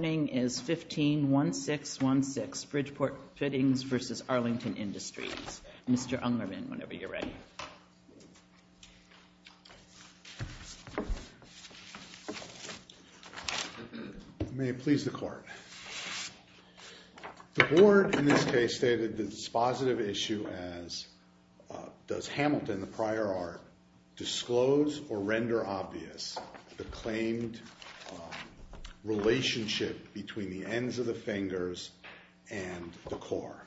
is 15-1616, Bridgeport Fittings versus Arlington Industries. Mr. Ungerman, whenever you're ready. May it please the court. The board, in this case, stated that it's a positive issue as does Hamilton, the prior art, disclose or render obvious the claimed relationship between the ends of the fingers and the core.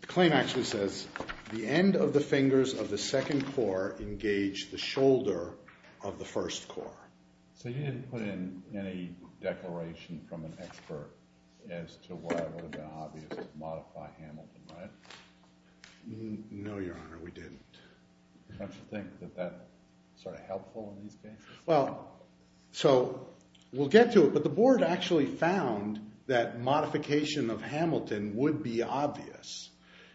The claim actually says, the end of the fingers of the second core engage the shoulder of the first core. So you didn't put in any declaration from an expert as to whether it would be obvious to modify Hamilton, right? No, Your Honor, we didn't. Don't you think that that's sort of helpful in these cases? Well, so we'll get to it, but the board actually found that modification of Hamilton would be obvious.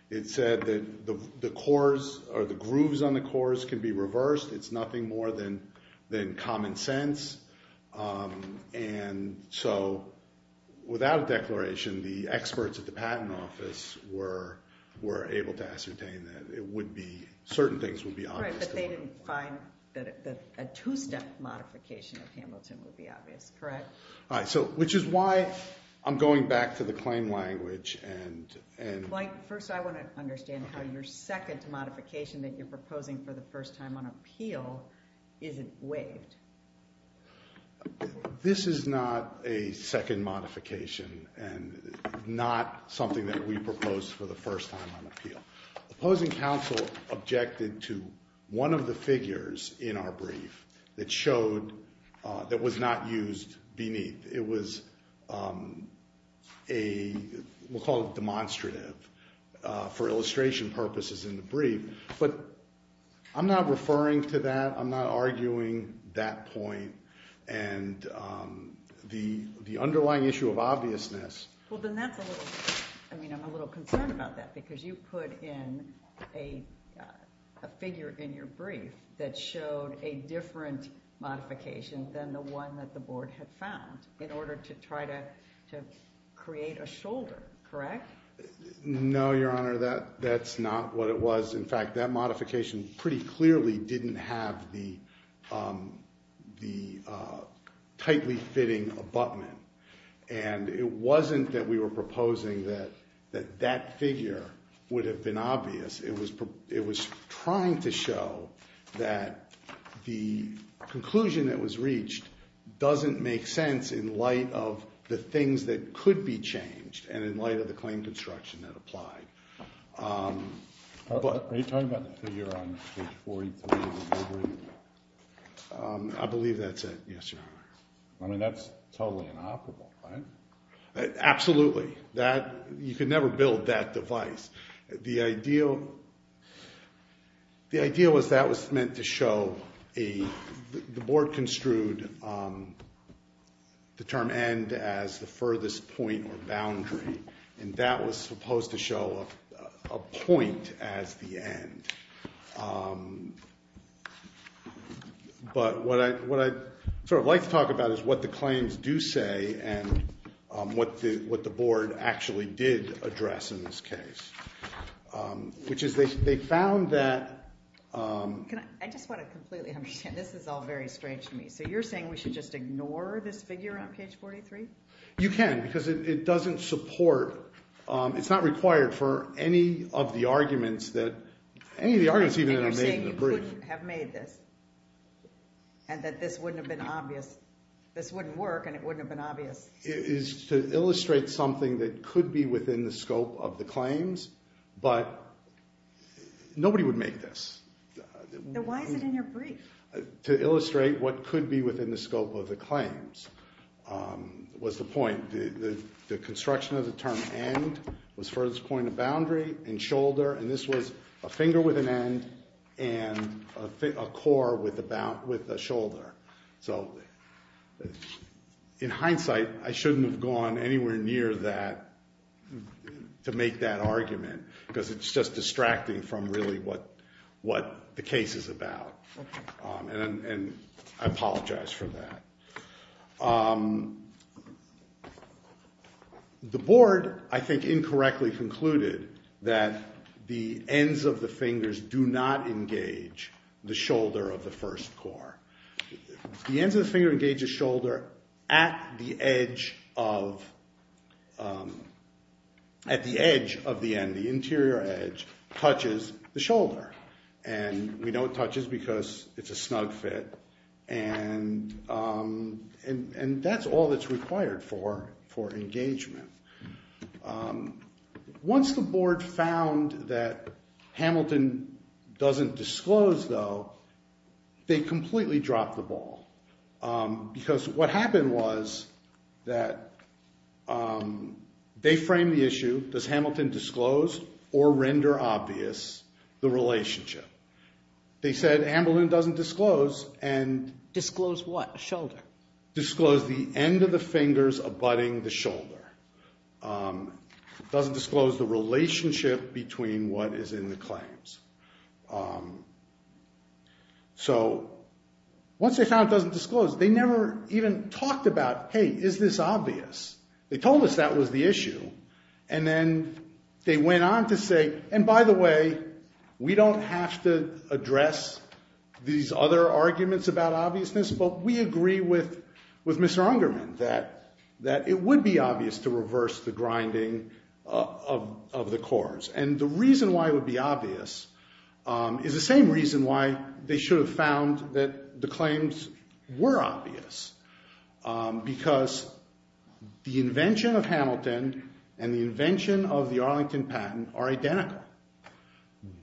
It said that the cores or the grooves on the cores can be reversed. It's nothing more than common sense. And so without a declaration, the experts at the patent office were able to ascertain that it would be, certain things would be obvious. But they didn't find that a two-step modification of Hamilton would be obvious, correct? Which is why I'm going back to the claim language and. First, I want to understand how your second modification that you're proposing for the first time on appeal isn't waived. This is not a second modification and not something that we proposed for the first time on appeal. Opposing counsel objected to one of the figures in our brief that showed that was not used beneath. It was a, we'll call it demonstrative, for illustration purposes in the brief. But I'm not referring to that. I'm not arguing that point. And the underlying issue of obviousness. Well, then that's a little, I mean, I'm a little concerned about that, because you put in a figure in your brief that showed a different modification than the one that the board had found in order to try to create a shoulder, correct? No, Your Honor, that's not what it was. In fact, that modification pretty clearly didn't have the tightly fitting abutment. And it wasn't that we were proposing that that figure would have been obvious. It was trying to show that the conclusion that was reached doesn't make sense in light of the things that could be changed and in light of the claim construction that applied. Are you talking about the figure on page 43 of the brief? I believe that's it, yes, Your Honor. I mean, that's totally inoperable, right? Absolutely. You could never build that device. The idea was that was meant to show, the board construed the term end as the furthest point or boundary. And that was supposed to show a point as the end. But what I'd sort of like to talk about is what the claims do say and what the board actually did address in this case, which is they found that. I just want to completely understand. This is all very strange to me. So you're saying we should just ignore this figure on page 43? You can, because it doesn't support, it's not required for any of the arguments that any of the arguments even that are made in the brief. I think you're saying you couldn't have made this and that this wouldn't have been obvious. This wouldn't work, and it wouldn't have been obvious. It is to illustrate something that could be within the scope of the claims, but nobody would make this. Then why is it in your brief? To illustrate what could be within the scope of the claims was the point. The construction of the term end was furthest point of boundary and shoulder. And this was a finger with an end and a core with a shoulder. So in hindsight, I shouldn't have gone anywhere near that to make that argument, because it's just distracting from really what the case is about. And I apologize for that. The board, I think, incorrectly concluded that the ends of the fingers do not engage the shoulder of the first core. The ends of the finger engage the shoulder at the edge of the end, the interior edge, touches the shoulder. And we know it touches because it's a snug fit. And that's all that's required for engagement. Once the board found that Hamilton doesn't disclose, though, they completely dropped the ball. Because what happened was that they framed the issue, does Hamilton disclose or render obvious the relationship? They said, Hamilton doesn't disclose and Disclose what? A shoulder. Disclose the end of the fingers abutting the shoulder. Doesn't disclose the relationship between what is in the claims. So once they found it doesn't disclose, they never even talked about, hey, is this obvious? They told us that was the issue. And then they went on to say, and by the way, we don't have to address these other arguments about obviousness, but we agree with Mr. Ungerman that it would be obvious to reverse the grinding of the cores. And the reason why it would be obvious is the same reason why they should have found that the claims were obvious. Because the invention of Hamilton and the invention of the Arlington patent are identical.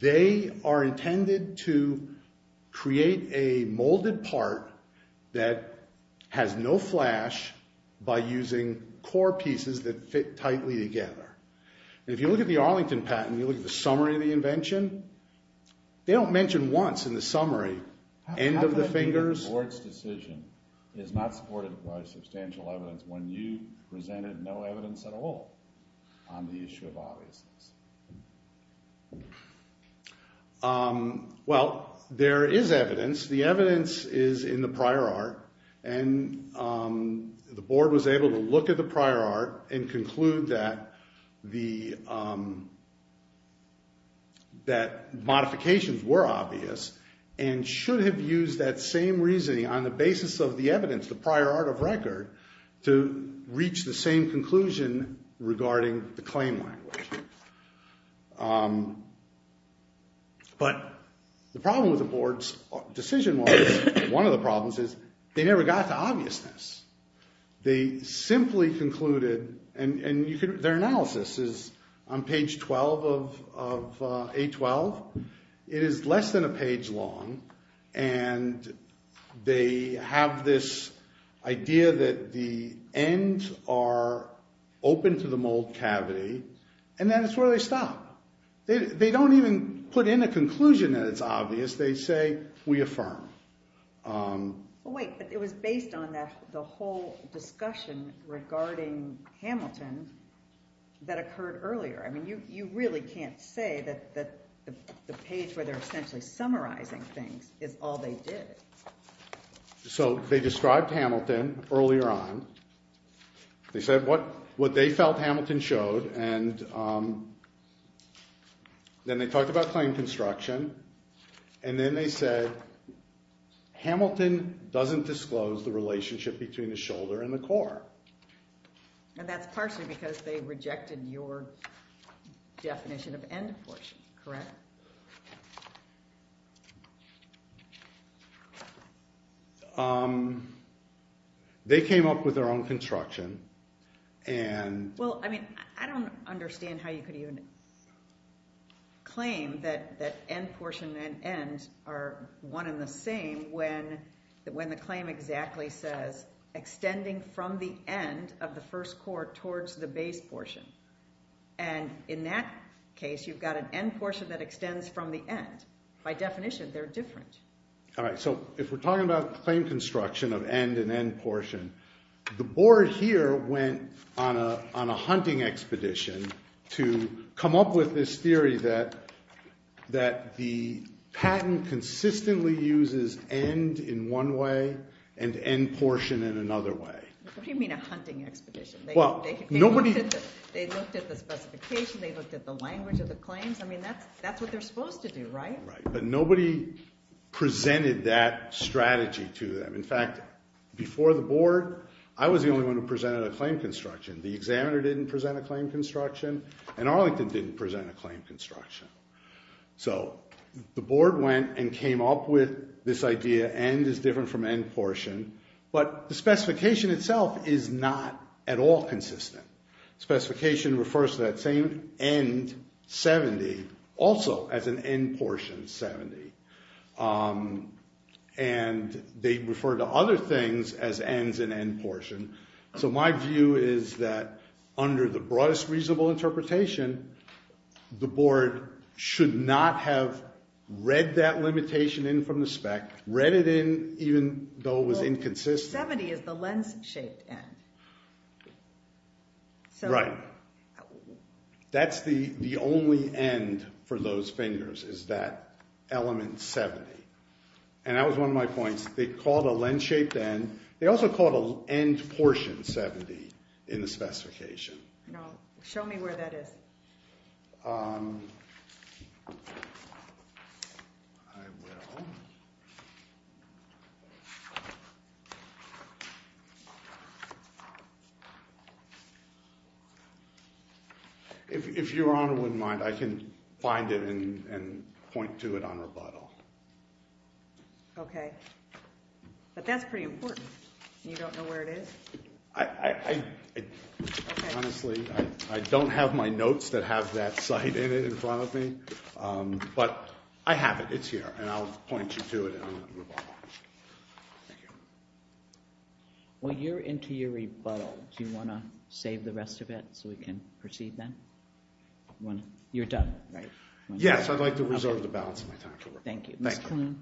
They are intended to create a molded part that has no flash by using core pieces that fit tightly together. And if you look at the Arlington patent, you look at the summary of the invention, they don't mention once in the summary, end of the fingers. How come the board's decision is not supported by substantial evidence when you presented no evidence at all on the issue of obviousness? Well, there is evidence. The evidence is in the prior art. And the board was able to look at the prior art and conclude that modifications were obvious and should have used that same reasoning on the basis of the evidence, the prior art of record, to reach the same conclusion regarding the claim language. But the problem with the board's decision was, one of the problems is, they never got to obviousness. They simply concluded, and their analysis is on page 12 of A12. It is less than a page long. And they have this idea that the ends are open to the mold cavity, and then it's where they stop. They don't even put in a conclusion that it's obvious. They say, we affirm. Wait, but it was based on the whole discussion regarding Hamilton that occurred earlier. I mean, you really can't say that the page where they're essentially summarizing things is all they did. So they described Hamilton earlier on. They said what they felt Hamilton showed. And then they talked about claim construction. And then they said, Hamilton doesn't disclose the relationship between the shoulder and the core. And that's partially because they rejected your definition of end portion, correct? Yes. They came up with their own construction. Well, I mean, I don't understand how you could even claim that end portion and end are one and the same when the claim exactly says, extending from the end of the first core towards the base portion. And in that case, you've got an end portion that extends from the end. By definition, they're different. All right, so if we're talking about claim construction of end and end portion, the board here went on a hunting expedition to come up with this theory that the patent consistently uses end in one way and end portion in another way. What do you mean a hunting expedition? They looked at the specification. They looked at the language of the claims. That's what they're supposed to do, right? But nobody presented that strategy to them. In fact, before the board, I was the only one who presented a claim construction. The examiner didn't present a claim construction. And Arlington didn't present a claim construction. So the board went and came up with this idea, end is different from end portion. But the specification itself is not at all consistent. Specification refers to that same end, 70, also as an end portion, 70. And they refer to other things as ends and end portion. So my view is that under the broadest reasonable interpretation, the board should not have read that limitation in from the spec, read it in even though it was inconsistent. 70 is the lens-shaped end. Right. That's the only end for those fingers, is that element 70. And that was one of my points. They called a lens-shaped end. They also called an end portion 70 in the specification. Show me where that is. I will. If your honor wouldn't mind, I can find it and point to it on rebuttal. OK. But that's pretty important. You don't know where it is? I honestly, I don't have my notes that have that site in it in front of me. But I have it. It's here. And I'll point you to it on rebuttal. Thank you. When you're into your rebuttal, do you want to save the rest of it so we can proceed then? You're done, right? Yes, I'd like to reserve the balance of my time for rebuttal. Thank you. Ms. Kloon.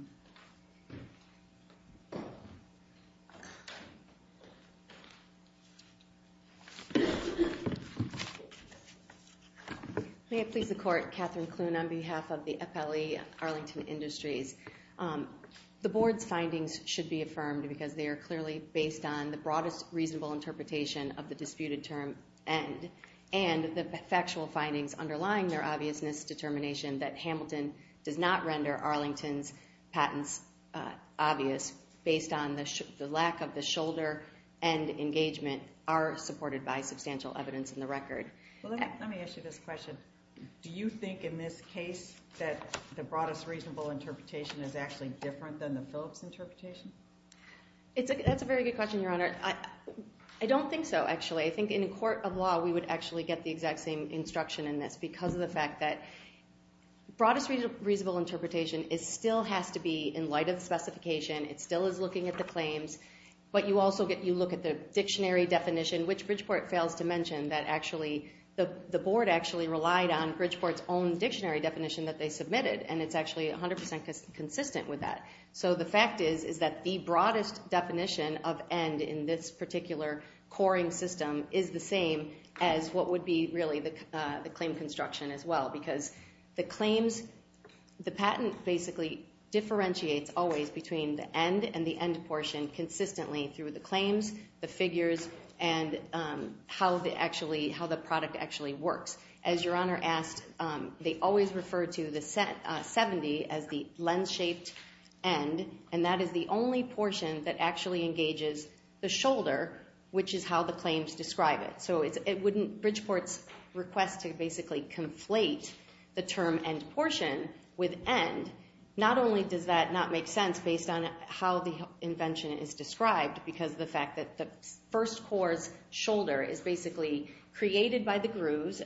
May it please the court, Catherine Kloon on behalf of the FLE Arlington Industries. The board's findings should be affirmed because they are clearly based on the broadest reasonable interpretation of the disputed term end. And the factual findings underlying their obviousness determination that Hamilton does not render Arlington's patents obvious based on the lack of the shoulder end engagement are supported by substantial evidence in the record. Let me ask you this question. Do you think in this case that the broadest reasonable interpretation is actually different than the Phillips interpretation? That's a very good question, Your Honor. I don't think so, actually. I think in a court of law, we would actually get the exact same instruction in this because of the fact that broadest reasonable interpretation still has to be in light of the specification. It still is looking at the claims. But you also get you look at the dictionary definition, which Bridgeport fails to mention that actually the board actually relied on Bridgeport's own dictionary definition that they submitted. And it's actually 100% consistent with that. So the fact is that the broadest definition of end in this particular coring system is the same as what would be really the claim construction as well because the claims, the patent basically differentiates always between the end and the end portion consistently through the claims, the figures, and how the product actually works. As Your Honor asked, they always refer to the 70 as the lens-shaped end. And that is the only portion that actually engages the shoulder, which is how the claims describe it. So it wouldn't Bridgeport's request to basically conflate the term end portion with end, not only does that not make sense based on how the invention is described because of the fact that the first core's shoulder is basically created by the grooves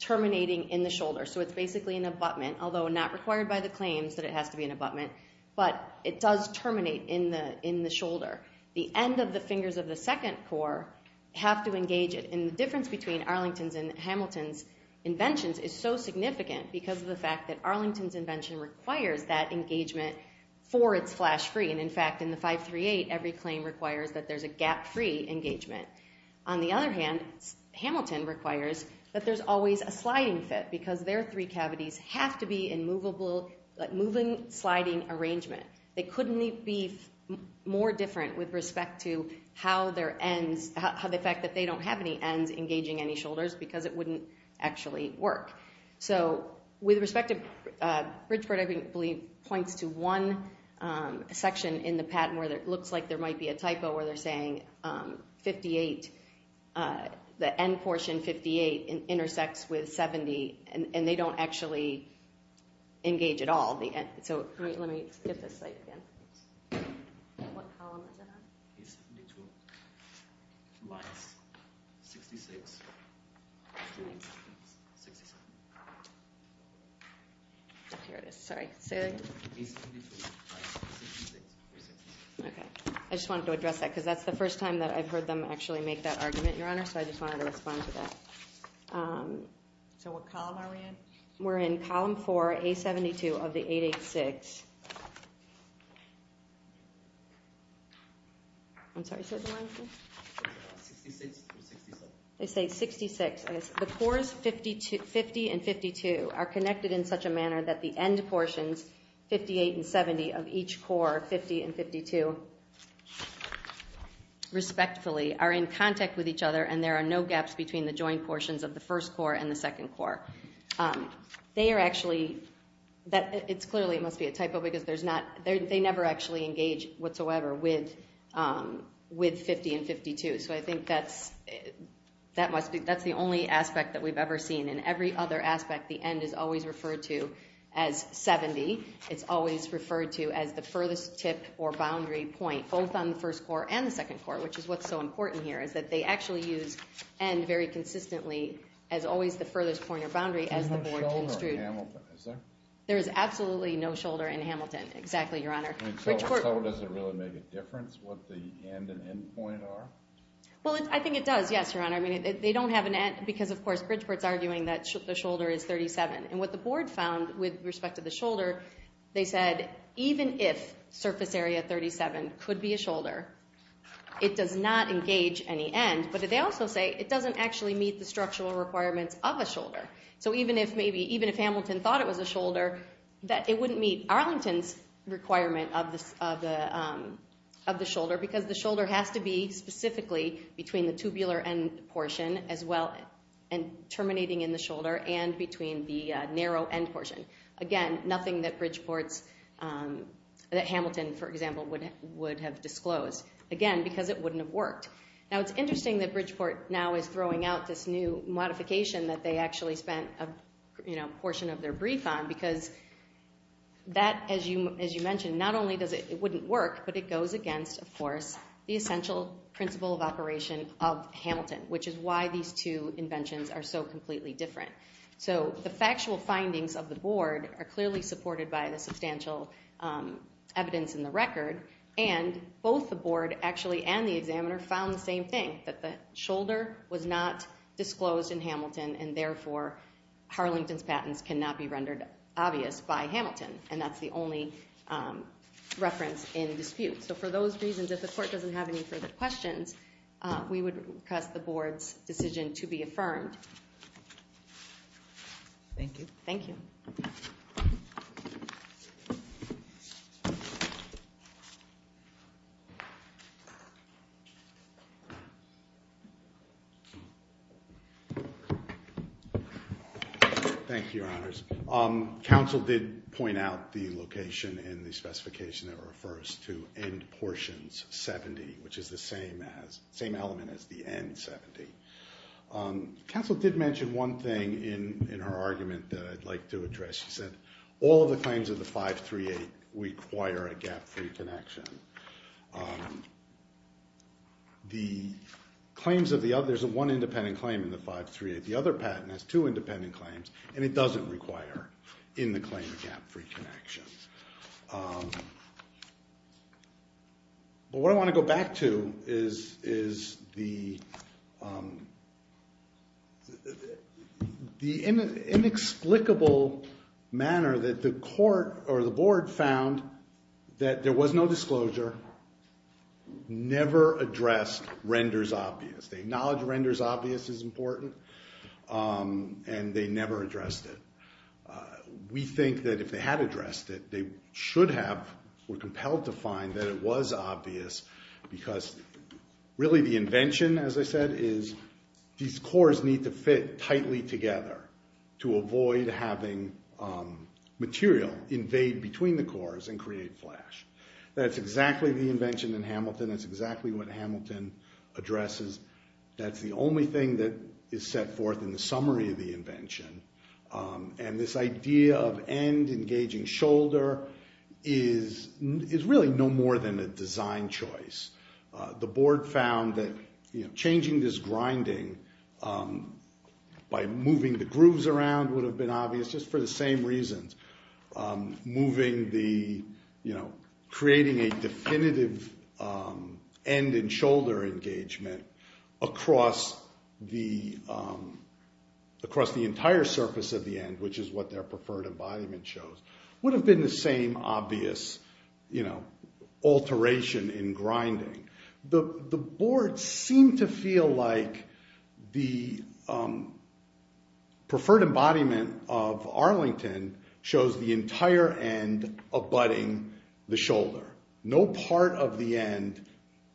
terminating in the shoulder. So it's basically an abutment, although not required by the claims that it has to be an abutment. But it does terminate in the shoulder. The end of the fingers of the second core have to engage it. And the difference between Arlington's and Hamilton's inventions is so significant because of the fact that Arlington's invention requires that engagement for its flash-free. And in fact, in the 538, every claim requires that there's a gap-free engagement. On the other hand, Hamilton requires that there's always a sliding fit because their three cavities have to be in moving, sliding arrangement. They couldn't be more different with respect to the fact that they don't have any ends engaging any shoulders because it wouldn't actually work. So with respect to Bridgeport, I believe, points to one section in the patent where it looks like there might be a typo where they're saying 58, the end portion 58, intersects with 70. And they don't actually engage at all. So let me get this site again. What column is it on? It's 72 minus 66, which means 67. Here it is. Sorry. Say that again. It's 72 minus 66, which is 67. I just wanted to address that because that's the first time that I've heard them actually make that argument, Your Honor. So I just wanted to respond to that. So what column are we in? We're in column four, A72 of the 886. I'm sorry. Say it one more time. It's 66 or 67. They say 66. The cores 50 and 52 are connected in such a manner that the end portions, 58 and 70, of each core, 50 and 52, respectfully, are in contact with each other. And there are no gaps between the joint portions of the first core and the second core. They are actually, it's clearly, it must be a typo because they never actually engage whatsoever with 50 and 52. So I think that's the only aspect that we've ever seen. In every other aspect, the end is always referred to as 70. It's always referred to as the furthest tip or boundary point, both on the first core and the second core, which is what's so important here, is that they actually use end very consistently as always the furthest point or boundary as the board construed. There's no shoulder in Hamilton, is there? There is absolutely no shoulder in Hamilton, exactly, Your Honor. I mean, so does it really make a difference what the end and endpoint are? Well, I think it does, yes, Your Honor. They don't have an end because, of course, Bridgeport's arguing that the shoulder is 37. And what the board found with respect to the shoulder, they said even if surface area 37 could be a shoulder, it does not engage any end. But they also say it doesn't actually meet the structural requirements of a shoulder. So even if Hamilton thought it was a shoulder, it wouldn't meet Arlington's requirement of the shoulder because the shoulder has to be specifically between the tubular end portion as well and terminating in the shoulder and between the narrow end portion. Again, nothing that Hamilton, for example, would have disclosed. Again, because it wouldn't have worked. Now, it's interesting that Bridgeport now is throwing out this new modification that they actually spent a portion of their brief on because that, as you mentioned, not only does it wouldn't work, but it goes against, of course, the essential principle of operation of Hamilton, which is why these two inventions are so completely different. So the factual findings of the board are clearly supported by the substantial evidence in the record. And both the board, actually, and the examiner found the same thing, that the shoulder was not disclosed in Hamilton. And therefore, Harlington's patents cannot be rendered obvious by Hamilton. And that's the only reference in dispute. So for those reasons, if the court doesn't have any further questions, we would request the board's decision to be affirmed. Thank you. Thank you. Thank you, Your Honors. Council did point out the location in the specification that refers to end portions 70, which is the same element as the end 70. Council did mention one thing in her argument that I'd like to address. She said, all of the claims of the 538 require a gap-free connection. There's one independent claim in the 538. The other patent has two independent claims, and it doesn't require, in the claim, a gap-free connection. But what I want to go back to is the inexplicable manner that the court or the board found that there was no disclosure, never addressed, renders obvious. They acknowledge renders obvious is important, and they never addressed it. We think that if they had addressed it, they should have, were compelled to find that it was obvious, because really the invention, as I said, is these cores need to fit tightly together to avoid having material invade between the cores and create flash. That's exactly the invention in Hamilton. That's exactly what Hamilton addresses. That's the only thing that is set forth in the summary of the invention. And this idea of end engaging shoulder is really no more than a design choice. The board found that changing this grinding by moving the grooves around would have been obvious, just for the same reasons. Moving the, creating a definitive end and shoulder engagement across the entire surface of the end, which is what their preferred embodiment shows, would have been the same obvious alteration in grinding. The board seemed to feel like the preferred embodiment of Arlington shows the entire end abutting the shoulder. No part of the end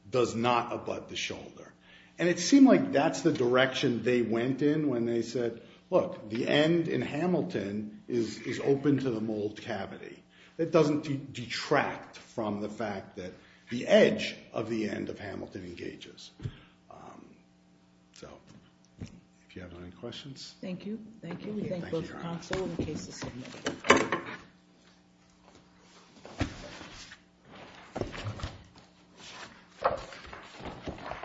does not abut the shoulder. And it seemed like that's the direction they went in when they said, look, the end in Hamilton is open to the mold cavity. It doesn't detract from the fact that the edge of the end of Hamilton engages. So if you have any questions. Thank you. Thank you. Thank you.